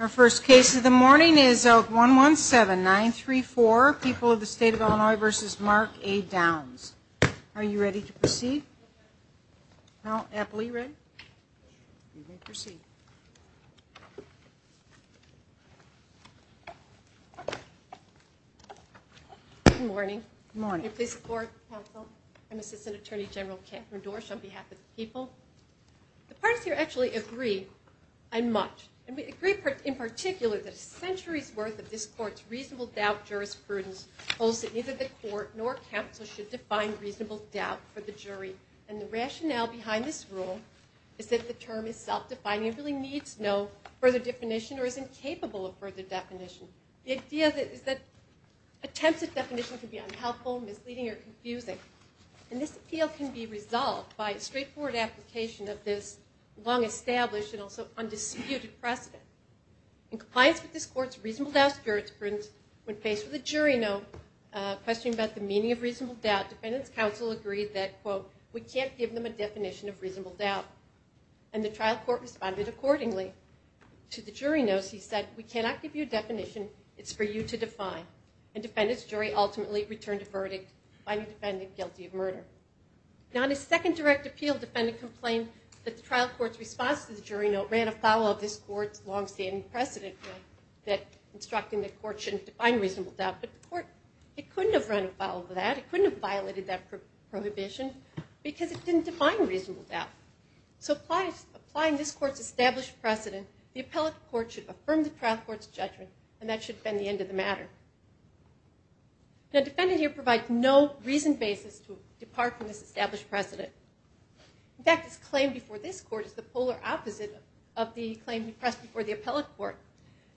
Our first case of the morning is 117934, People of the State of Illinois v. Mark A. Downs. Are you ready to proceed? Well, Apple, are you ready? You may proceed. Good morning. Good morning. May I please support the council? I'm Assistant Attorney General Catherine Dorsch on behalf of the people. The parties here actually agree on much. And we agree in particular that a century's worth of this court's reasonable doubt jurisprudence holds that neither the court nor council should define reasonable doubt for the jury. And the rationale behind this rule is that the term is self-defining and really needs no further definition or is incapable of further definition. The idea is that attempts at definition can be unhelpful, misleading, or confusing. And this appeal can be resolved by a straightforward application of this long-established and also undisputed precedent. In compliance with this court's reasonable doubt jurisprudence, when faced with a jury note questioning about the meaning of reasonable doubt, defendants' counsel agreed that, quote, we can't give them a definition of reasonable doubt. And the trial court responded accordingly. To the jury notes, he said, we cannot give you a definition. It's for you to define. And defendants' jury ultimately returned a verdict, finding the defendant guilty of murder. Now, in a second direct appeal, defendant complained that the trial court's response to the jury note ran afoul of this court's long-standing precedent, that instructing the court shouldn't define reasonable doubt. But the court, it couldn't have run afoul of that. It couldn't have violated that prohibition because it didn't define reasonable doubt. So applying this court's established precedent, the appellate court should affirm the trial court's judgment, and that should have been the end of the matter. Now, the defendant here provides no reasoned basis to depart from this established precedent. In fact, his claim before this court is the polar opposite of the claim he pressed before the appellate court.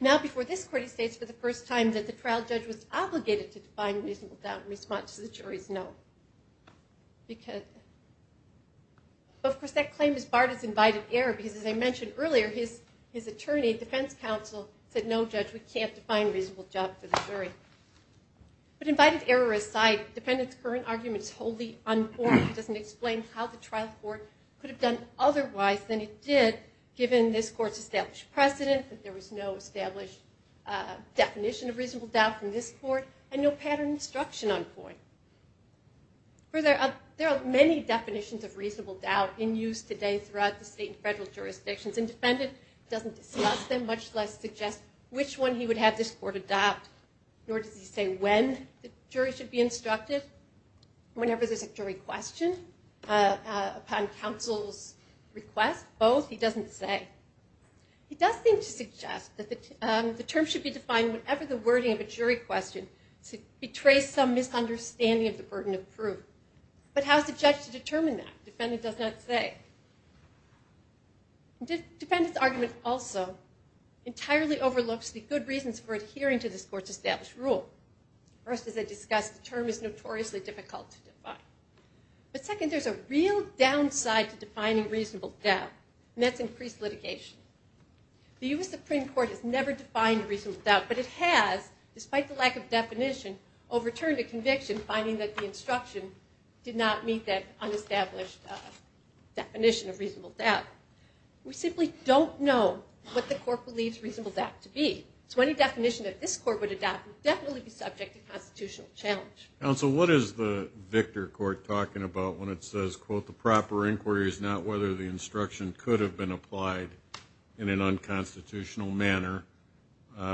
Now, before this court, he states for the first time that the trial judge was obligated to define reasonable doubt in response to the jury's note. Of course, that claim is Barton's invited error because, as I mentioned earlier, his attorney, defense counsel, said, no, judge, we can't define reasonable doubt for the jury. But invited error aside, defendant's current argument is wholly unimportant. It doesn't explain how the trial court could have done otherwise than it did, given this court's established precedent, that there was no established definition of reasonable doubt from this court, and no patterned instruction on point. Further, there are many definitions of reasonable doubt in use today throughout the state and federal jurisdictions, and defendant doesn't discuss them, much less suggest which one he would have this court adopt. Nor does he say when the jury should be instructed. Whenever there's a jury question, upon counsel's request, both, he doesn't say. He does seem to suggest that the term should be defined whenever the wording of a jury question betrays some misunderstanding of the burden of proof. But how is the judge to determine that? Defendant does not say. Defendant's argument also entirely overlooks the good reasons for adhering to this court's established rule. First, as I discussed, the term is notoriously difficult to define. But second, there's a real downside to defining reasonable doubt, and that's increased litigation. The U.S. Supreme Court has never defined reasonable doubt, but it has, despite the lack of definition, overturned a conviction, finding that the instruction did not meet that unestablished definition of reasonable doubt. We simply don't know what the court believes reasonable doubt to be. So any definition that this court would adopt would definitely be subject to constitutional challenge. Counsel, what is the Victor Court talking about when it says, quote, the proper inquiry is not whether the instruction could have been applied in an unconstitutional manner,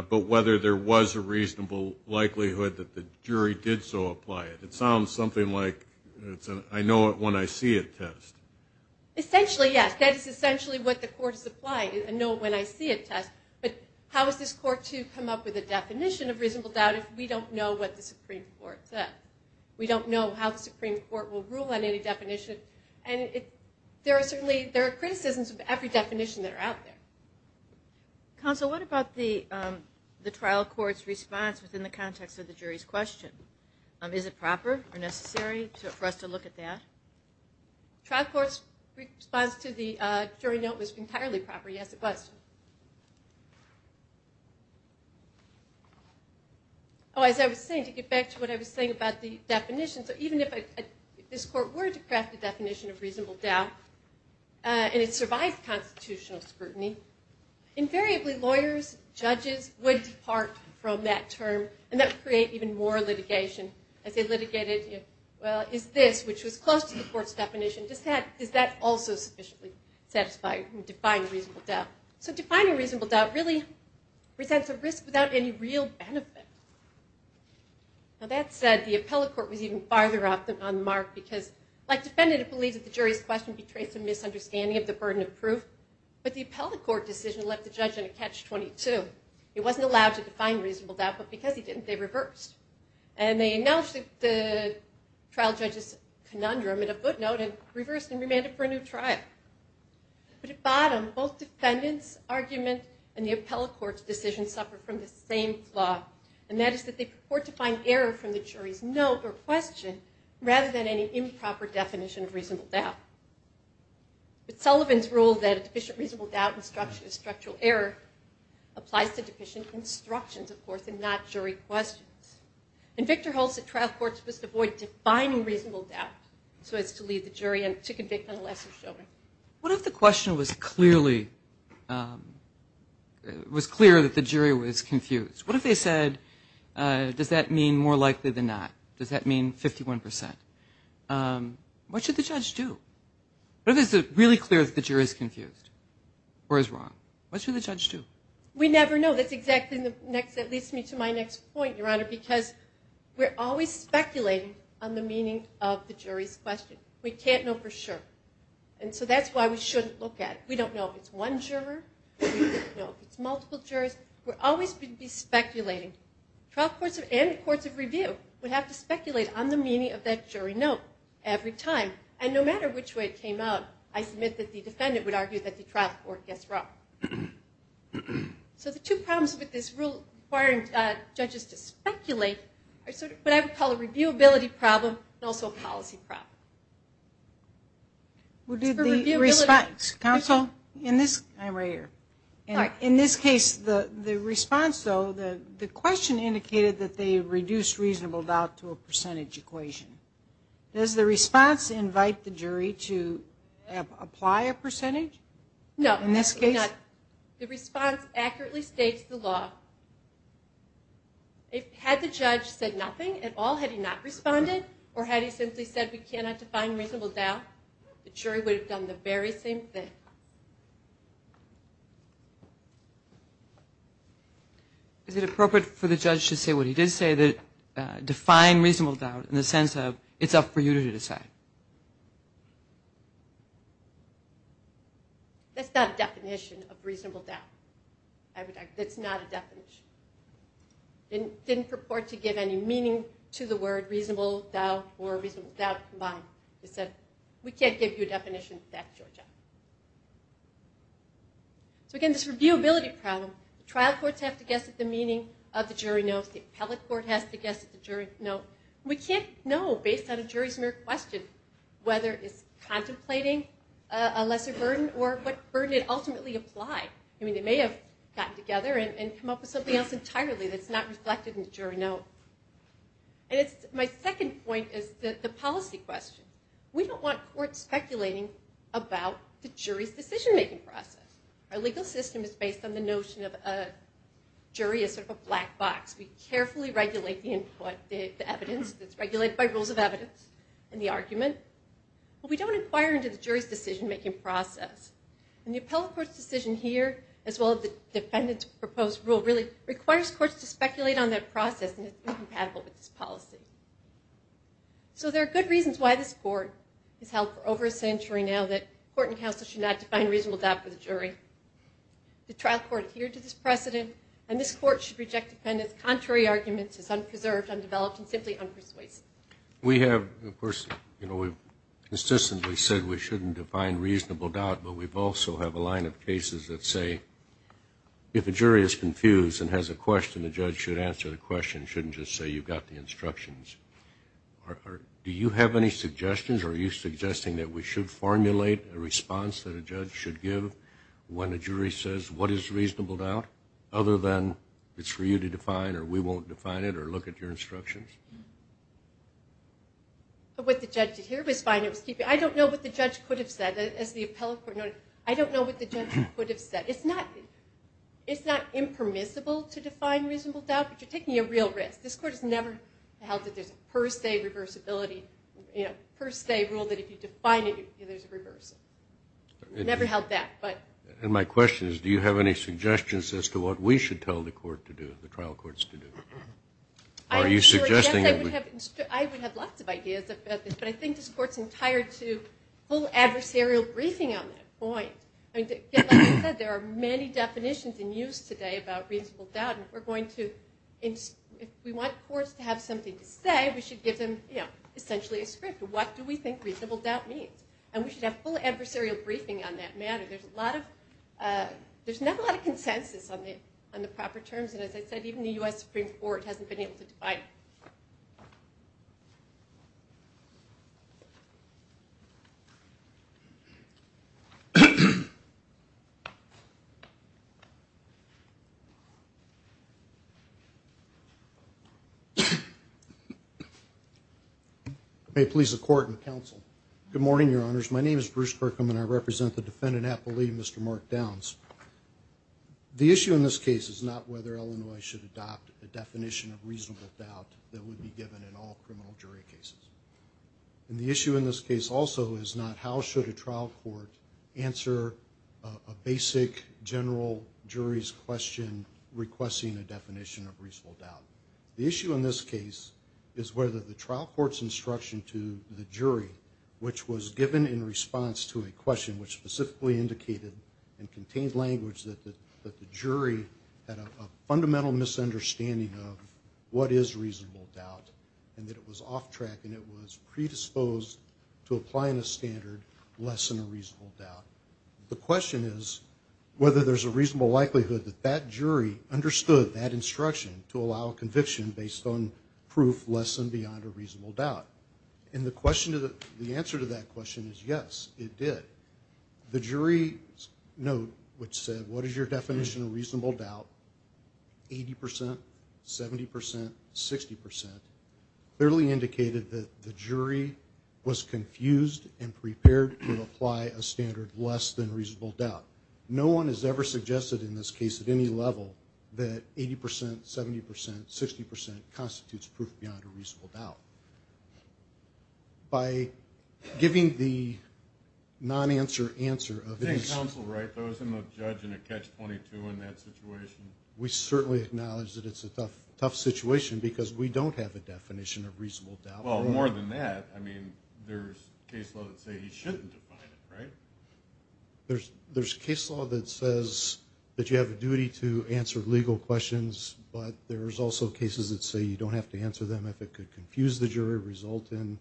but whether there was a reasonable likelihood that the jury did so apply it? It sounds something like, I know it when I see it test. Essentially, yes. That is essentially what the court is applying, I know it when I see it test. But how is this court to come up with a definition of reasonable doubt if we don't know what the Supreme Court said? We don't know how the Supreme Court will rule on any definition. And there are criticisms of every definition that are out there. Counsel, what about the trial court's response within the context of the jury's question? Is it proper or necessary for us to look at that? Trial court's response to the jury note was entirely proper, yes, it was. As I was saying, to get back to what I was saying about the definitions, even if this court were to craft a definition of reasonable doubt, and it survived constitutional scrutiny, invariably lawyers, judges would depart from that term, and that would create even more litigation. As they litigated, well, is this, which was close to the court's definition, does that also sufficiently satisfy and define reasonable doubt? So defining reasonable doubt really presents a risk without any real benefit. Now that said, the appellate court was even farther off on the mark, because like defendant, it believes that the jury's question betrays some misunderstanding of the burden of proof, but the appellate court decision left the judge in a catch-22. He wasn't allowed to define reasonable doubt, but because he didn't, they reversed. And they announced the trial judge's conundrum in a footnote and reversed and remanded for a new trial. But at bottom, both defendant's argument and the appellate court's decision suffered from the same flaw, and that is that they purport to find error from the jury's note or question rather than any improper definition of reasonable doubt. But Sullivan's rule that deficient reasonable doubt is structural error applies to deficient instructions, of course, and not jury questions. And Victor holds that trial courts must avoid defining reasonable doubt so as to lead the jury to convict unless it's shown. What if the question was clear that the jury was confused? What if they said, does that mean more likely than not? Does that mean 51%? What should the judge do? What if it's really clear that the jury is confused or is wrong? What should the judge do? We never know. That leads me to my next point, Your Honor, because we're always speculating on the meaning of the jury's question. We can't know for sure. And so that's why we shouldn't look at it. We don't know if it's one juror. We don't know if it's multiple jurors. We're always going to be speculating. Trial courts and courts of review would have to speculate on the meaning of that jury note every time. And no matter which way it came out, I submit that the defendant would argue that the trial court gets wrong. So the two problems with this rule requiring judges to speculate are sort of what I would call a reviewability problem and also a policy problem. Counsel? I'm right here. In this case, the response, though, the question indicated that they reduced reasonable doubt to a percentage equation. Does the response invite the jury to apply a percentage? No. In this case? The response accurately states the law. Had the judge said nothing at all, had he not responded, or had he simply said we cannot define reasonable doubt, the jury would have done the very same thing. Is it appropriate for the judge to say what he did say, define reasonable doubt in the sense of it's up for you to decide? That's not a definition of reasonable doubt. That's not a definition. It didn't purport to give any meaning to the word reasonable doubt or reasonable doubt combined. It said we can't give you a definition of that, Georgia. So, again, this reviewability problem, the trial courts have to guess at the meaning of the jury notes. The appellate court has to guess at the jury note. We can't know based on a jury's mere question whether it's contemplating a lesser burden or what burden it ultimately applied. I mean, they may have gotten together and come up with something else entirely that's not reflected in the jury note. My second point is the policy question. We don't want courts speculating about the jury's decision-making process. Our legal system is based on the notion of a jury as sort of a black box. We carefully regulate the input, the evidence that's regulated by rules of evidence and the argument. But we don't inquire into the jury's decision-making process. And the appellate court's decision here, as well as the defendant's proposed rule, really requires courts to speculate on their process and it's incompatible with this policy. So there are good reasons why this court has held for over a century now that court and counsel should not define reasonable doubt for the jury. The trial court adhered to this precedent, and this court should reject defendant's contrary arguments as unpreserved, undeveloped, and simply unpersuasive. We have, of course, you know, we've consistently said we shouldn't define reasonable doubt, but we also have a line of cases that say, if a jury is confused and has a question, the judge should answer the question, shouldn't just say you've got the instructions. Do you have any suggestions? Are you suggesting that we should formulate a response that a judge should give when a jury says what is reasonable doubt, other than it's for you to define or we won't define it or look at your instructions? What the judge did here was fine. I don't know what the judge could have said. As the appellate court noted, I don't know what the judge could have said. It's not impermissible to define reasonable doubt, but you're taking a real risk. This court has never held that there's a per se reversibility, you know, per se rule that if you define it, there's a reversal. Never held that, but. And my question is, do you have any suggestions as to what we should tell the court to do, the trial courts to do? Are you suggesting that we. I would have lots of ideas about this, but I think this court's entired to full adversarial briefing on that point. Like I said, there are many definitions in use today about reasonable doubt, and we're going to. If we want courts to have something to say, we should give them essentially a script. What do we think reasonable doubt means? And we should have full adversarial briefing on that matter. There's a lot of. There's not a lot of consensus on the proper terms, and as I said, even the U.S. Supreme Court hasn't been able to define. May it please the court and counsel. Good morning, your honors. My name is Bruce Kirkham, and I represent the defendant, Appleby, Mr. Mark Downs. The issue in this case is not whether Illinois should adopt a definition of reasonable doubt that would be given in all criminal jury cases. And the issue in this case also is not how should a trial court answer a basic general jury's question requesting a definition of reasonable doubt. The issue in this case is whether the trial court's instruction to the jury, which was given in response to a question which specifically indicated and contained language that the jury had a fundamental misunderstanding of what is reasonable doubt, and that it was off track and it was predisposed to applying a standard less than a reasonable doubt. The question is whether there's a reasonable likelihood that that jury understood that instruction to allow conviction based on proof less than beyond a reasonable doubt. And the answer to that question is yes, it did. The jury's note which said, what is your definition of reasonable doubt, 80 percent, 70 percent, 60 percent, clearly indicated that the jury was confused and prepared to apply a standard less than reasonable doubt. No one has ever suggested in this case at any level that 80 percent, 70 percent, 60 percent constitutes proof beyond a reasonable doubt. By giving the non-answer answer of this. I think counsel wrote those in the judge in a catch-22 in that situation. We certainly acknowledge that it's a tough situation because we don't have a definition of reasonable doubt. Well, more than that, I mean, there's case law that say he shouldn't define it, right? There's case law that says that you have a duty to answer legal questions, but there's also cases that say you don't have to answer them if it could confuse the jury, result in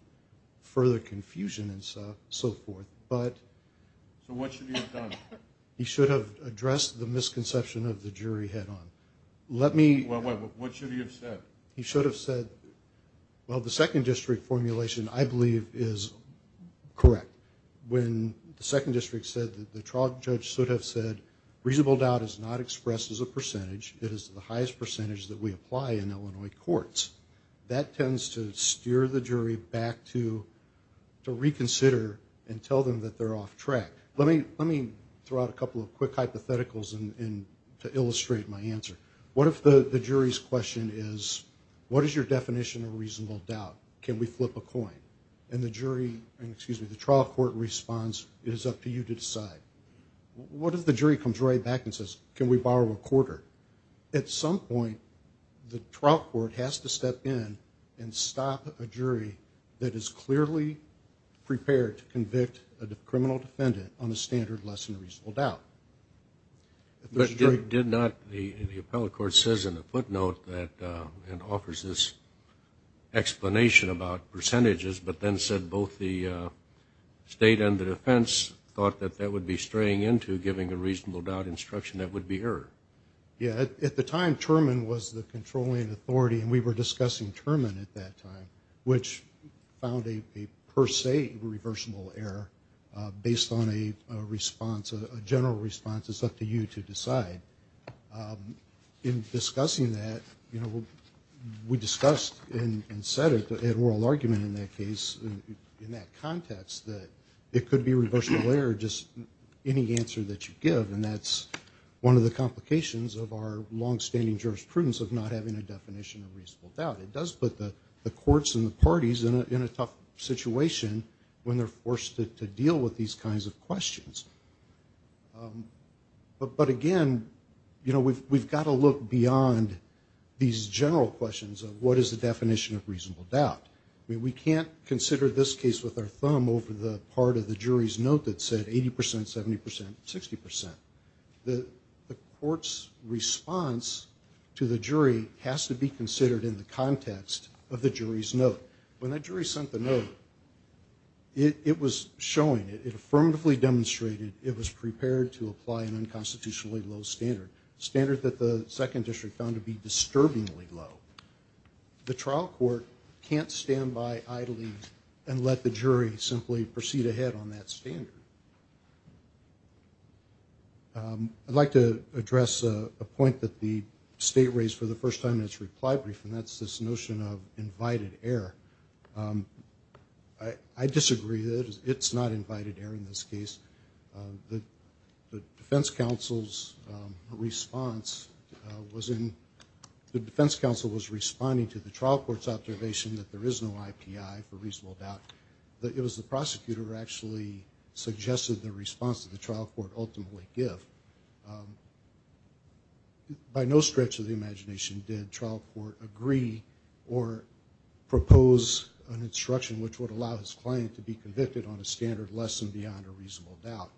further confusion and so forth. But. So what should he have done? He should have addressed the misconception of the jury head on. Let me. What should he have said? He should have said, well, the second district formulation, I believe, is correct. When the second district said that the trial judge should have said reasonable doubt is not expressed as a percentage. It is the highest percentage that we apply in Illinois courts. That tends to steer the jury back to reconsider and tell them that they're off track. Let me throw out a couple of quick hypotheticals to illustrate my answer. What if the jury's question is, what is your definition of reasonable doubt? Can we flip a coin? And the jury, excuse me, the trial court responds, it is up to you to decide. What if the jury comes right back and says, can we borrow a quarter? At some point, the trial court has to step in and stop a jury that is clearly prepared to convict a criminal defendant on the standard lesson of reasonable doubt. But did not the appellate court says in the footnote that it offers this explanation about percentages, but then said both the state and the defense thought that that would be straying into giving a reasonable doubt instruction that would be error? Yeah. At the time, Terman was the controlling authority, and we were discussing Terman at that time, which found a per se reversible error based on a response, a general response, it's up to you to decide. In discussing that, you know, we discussed and said it at oral argument in that case, in that context, that it could be a reversible error just any answer that you give, and that's one of the complications of our longstanding jurisprudence of not having a definition of reasonable doubt. It does put the courts and the parties in a tough situation when they're forced to deal with these kinds of questions. But, again, you know, we've got to look beyond these general questions of what is the definition of reasonable doubt. We can't consider this case with our thumb over the part of the jury's note that said 80 percent, 70 percent, 60 percent. The court's response to the jury has to be considered in the context of the jury's note. When that jury sent the note, it was showing, it affirmatively demonstrated it was prepared to apply an unconstitutionally low standard, standard that the second district found to be disturbingly low. The trial court can't stand by idly and let the jury simply proceed ahead on that standard. I'd like to address a point that the state raised for the first time in its reply brief, and that's this notion of invited error. I disagree. It's not invited error in this case. The defense counsel's response was in, the defense counsel was responding to the trial court's observation that there is no IPI for reasonable doubt. It was the prosecutor who actually suggested the response that the trial court ultimately give. By no stretch of the imagination did trial court agree or propose an instruction which would allow his client to be convicted on a standard less than beyond a reasonable doubt.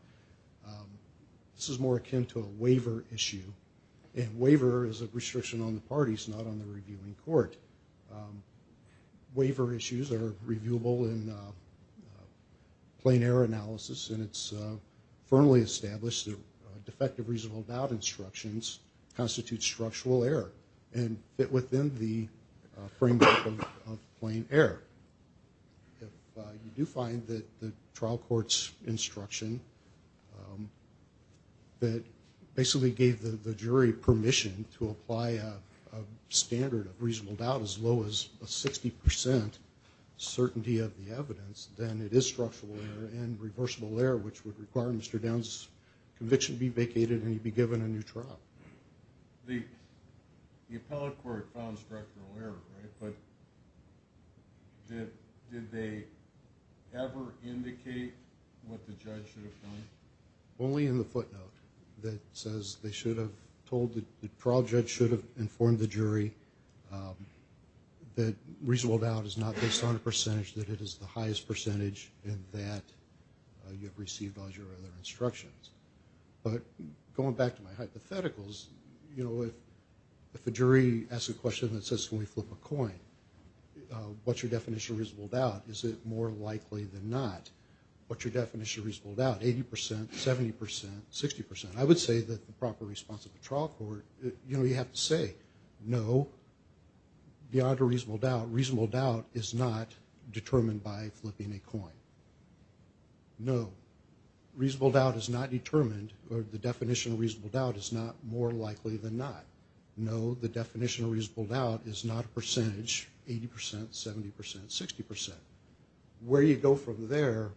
This is more akin to a waiver issue, and waiver is a restriction on the parties, not on the reviewing court. Waiver issues are reviewable in plain error analysis, and it's firmly established that defective reasonable doubt instructions constitute structural error and fit within the framework of plain error. You do find that the trial court's instruction that basically gave the jury permission to apply a standard of reasonable doubt as low as a 60% certainty of the evidence, then it is structural error and reversible error, which would require Mr. Downs' conviction to be vacated and he'd be given a new trial. The appellate court found structural error, right? But did they ever indicate what the judge should have done? Only in the footnote that says they should have told the trial judge should have informed the jury that reasonable doubt is not based on a percentage, that it is the highest percentage and that you have received all your other instructions. But going back to my hypotheticals, you know, if a jury asks a question that says can we flip a coin, what's your definition of reasonable doubt? Is it more likely than not? What's your definition of reasonable doubt? 80%, 70%, 60%? I would say that the proper response of the trial court, you know, you have to say no, beyond a reasonable doubt, reasonable doubt is not determined by flipping a coin. No, reasonable doubt is not determined or the definition of reasonable doubt is not more likely than not. No, the definition of reasonable doubt is not a percentage, 80%, 70%, 60%. Where you go from there,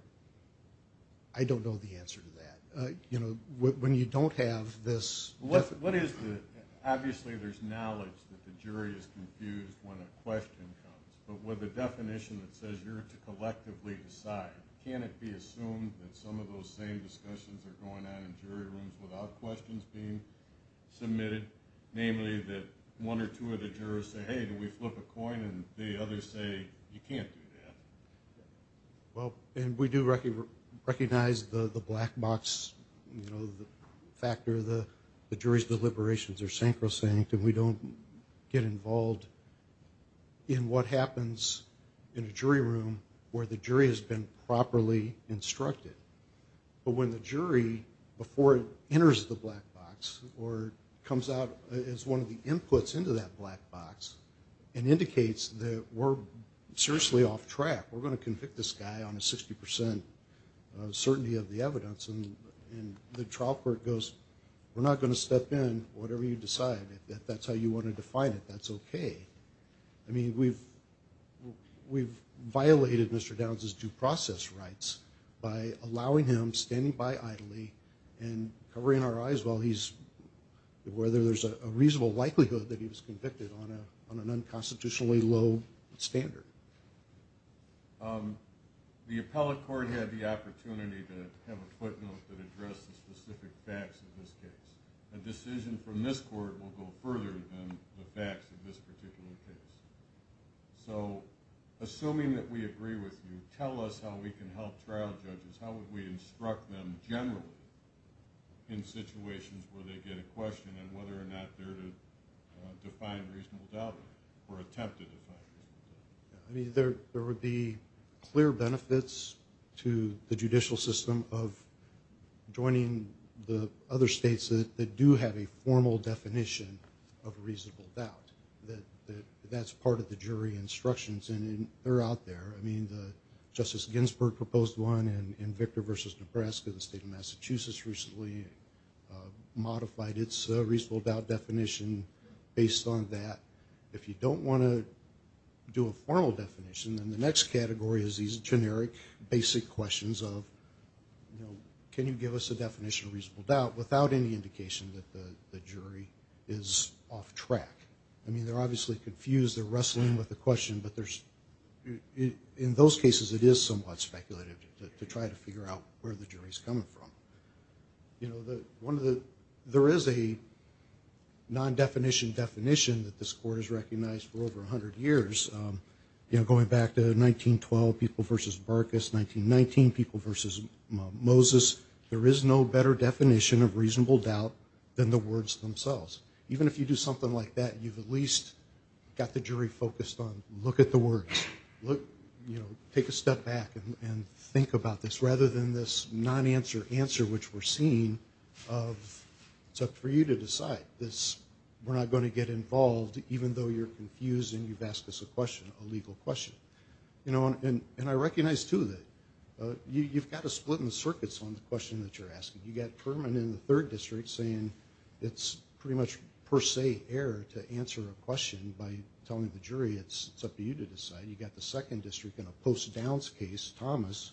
I don't know the answer to that. You know, when you don't have this... What is the, obviously there's knowledge that the jury is confused when a question comes, but with a definition that says you're to collectively decide, can it be assumed that some of those same discussions are going on in jury rooms without questions being submitted, namely that one or two of the jurors say, hey, do we flip a coin? And the others say, you can't do that. Well, and we do recognize the black box, you know, the factor, the jury's deliberations are sancrosanct and we don't get involved in what happens in a jury room where the jury has been properly instructed. But when the jury, before it enters the black box or comes out as one of the evidence and indicates that we're seriously off track, we're going to convict this guy on a 60% certainty of the evidence, and the trial court goes, we're not going to step in, whatever you decide. If that's how you want to define it, that's okay. I mean, we've violated Mr. Downs' due process rights by allowing him, standing by idly and covering our eyes while he's, whether there's a question or not, on an unconstitutionally low standard. The appellate court had the opportunity to have a footnote that addressed the specific facts of this case. A decision from this court will go further than the facts of this particular case. So assuming that we agree with you, tell us how we can help trial judges. How would we instruct them generally in situations where they get a question and whether or not they're to define reasonable doubt or attempt to define reasonable doubt? I mean, there would be clear benefits to the judicial system of joining the other states that do have a formal definition of reasonable doubt. That's part of the jury instructions, and they're out there. I mean, Justice Ginsburg proposed one, and Victor versus Nebraska, the state of Massachusetts, recently modified its reasonable doubt definition based on that. If you don't want to do a formal definition, then the next category is these generic basic questions of, you know, can you give us a definition of reasonable doubt without any indication that the jury is off track? I mean, they're obviously confused. They're wrestling with the question, but in those cases it is somewhat speculative to try to figure out where the jury is coming from. You know, there is a non-definition definition that this court has recognized for over 100 years. You know, going back to 1912 people versus Barkas, 1919 people versus Moses, there is no better definition of reasonable doubt than the words themselves. Even if you do something like that, you've at least got the jury focused on, look at the words. Take a step back and think about this rather than this non-answer answer which we're seeing of it's up for you to decide. We're not going to get involved even though you're confused and you've asked us a question, a legal question. And I recognize, too, that you've got to split in the circuits on the question that you're asking. You've got Kerman in the Third District saying it's pretty much per se error to you to decide. You've got the Second District in a post-downs case, Thomas,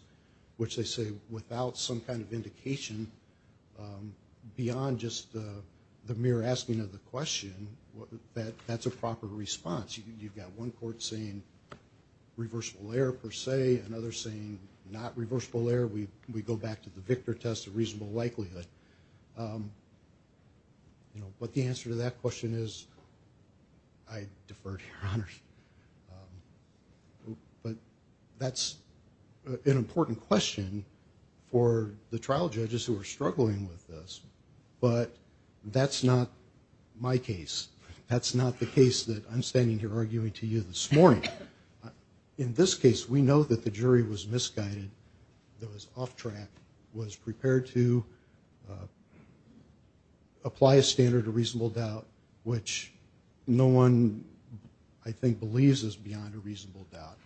which they say without some kind of indication beyond just the mere asking of the question, that's a proper response. You've got one court saying reversible error per se, another saying not reversible error. We go back to the Victor test of reasonable likelihood. But the answer to that question is I defer to Your Honor. But that's an important question for the trial judges who are struggling with this. But that's not my case. That's not the case that I'm standing here arguing to you this morning. In this case, we know that the jury was misguided, that it was off track, was prepared to apply a standard of reasonable doubt, which no one, I think, believes is beyond a reasonable doubt.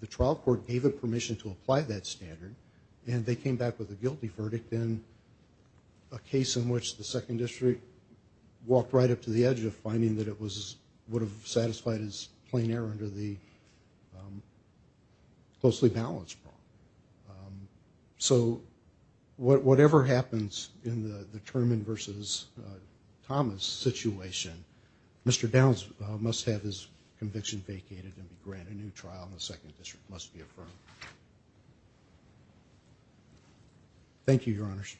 The trial court gave it permission to apply that standard, and they came back with a guilty verdict in a case in which the Second District walked right up to the edge of finding that it would have satisfied its plain error under the closely balanced prong. So whatever happens in the Turman versus Thomas situation, Mr. Downs must have his conviction vacated and be granted a new trial, and the Second District must be affirmed. Thank you, Your Honors.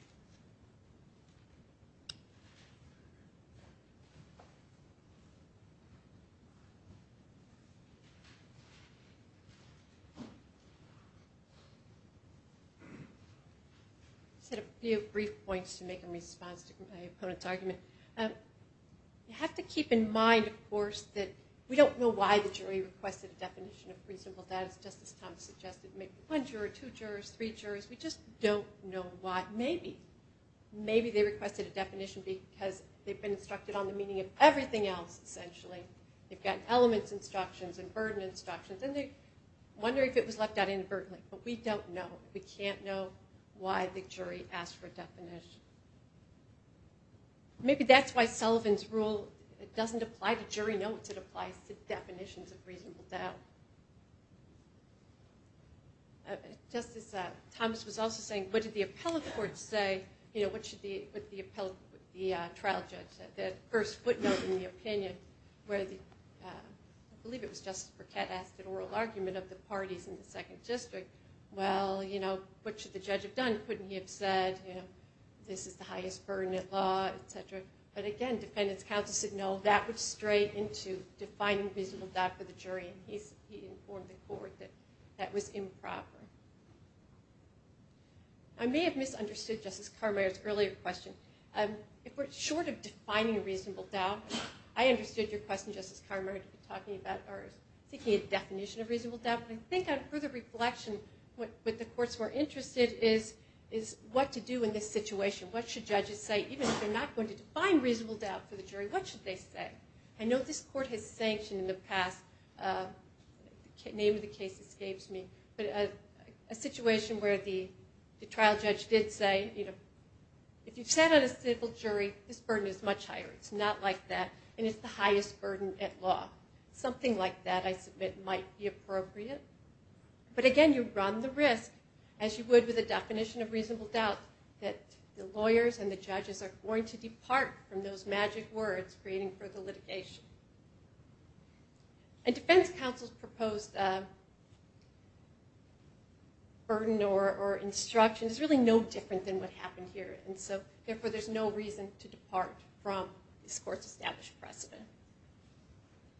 I just had a few brief points to make in response to my opponent's argument. You have to keep in mind, of course, that we don't know why the jury requested a definition of reasonable doubt. As Justice Thomas suggested, maybe one juror, two jurors, three jurors. We just don't know why. Maybe. Maybe they requested a definition because they've been instructed on the meaning of everything else, essentially. They've got elements instructions and burden instructions, and they wonder if it was left out inadvertently. But we don't know. We can't know why the jury asked for a definition. Maybe that's why Sullivan's rule doesn't apply to jury notes. It applies to definitions of reasonable doubt. Justice Thomas was also saying, what did the appellate court say? You know, what should the trial judge, the first footnote in the opinion, where I believe it was Justice Burkett asked an oral argument of the parties in the second district. Well, you know, what should the judge have done? Couldn't he have said, you know, this is the highest burden in law, et cetera? But again, defendants counsel said, no, that would stray into defining reasonable doubt for the jury. He informed the court that that was improper. I may have misunderstood Justice Carmeier's earlier question. If we're short of defining reasonable doubt, I understood your question, Justice Carmeier, to be talking about or seeking a definition of reasonable doubt. But I think on further reflection, what the courts were interested in is what to do in this situation. What should judges say? Even if they're not going to define reasonable doubt for the jury, what should they say? I know this court has sanctioned in the past. The name of the case escapes me. But a situation where the trial judge did say, you know, if you sat on a civil jury, this burden is much higher. It's not like that. And it's the highest burden at law. Something like that, I submit, might be appropriate. But again, you run the risk, as you would with a definition of reasonable doubt, that the lawyers and the judges are going to depart from those magic words creating further litigation. And defense counsel's proposed burden or instruction is really no different than what happened here. And so, therefore, there's no reason to depart from this court's established precedent.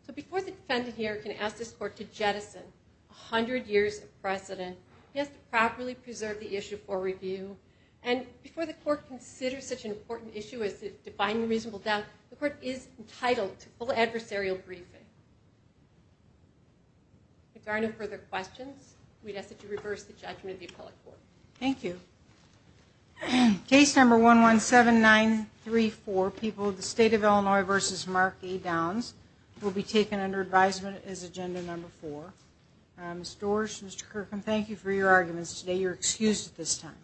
So before the defendant here can ask this court to jettison 100 years of precedent, he has to properly preserve the issue for review. And before the court considers such an important issue as defining reasonable doubt, the court is entitled to full adversarial briefing. If there are no further questions, we'd ask that you reverse the judgment of the appellate court. Thank you. Case number 117934, People of the State of Illinois v. Mark A. Downs, will be taken under advisement as agenda number four. Ms. Doersch, Mr. Kirkham, thank you for your arguments today. You're excused at this time.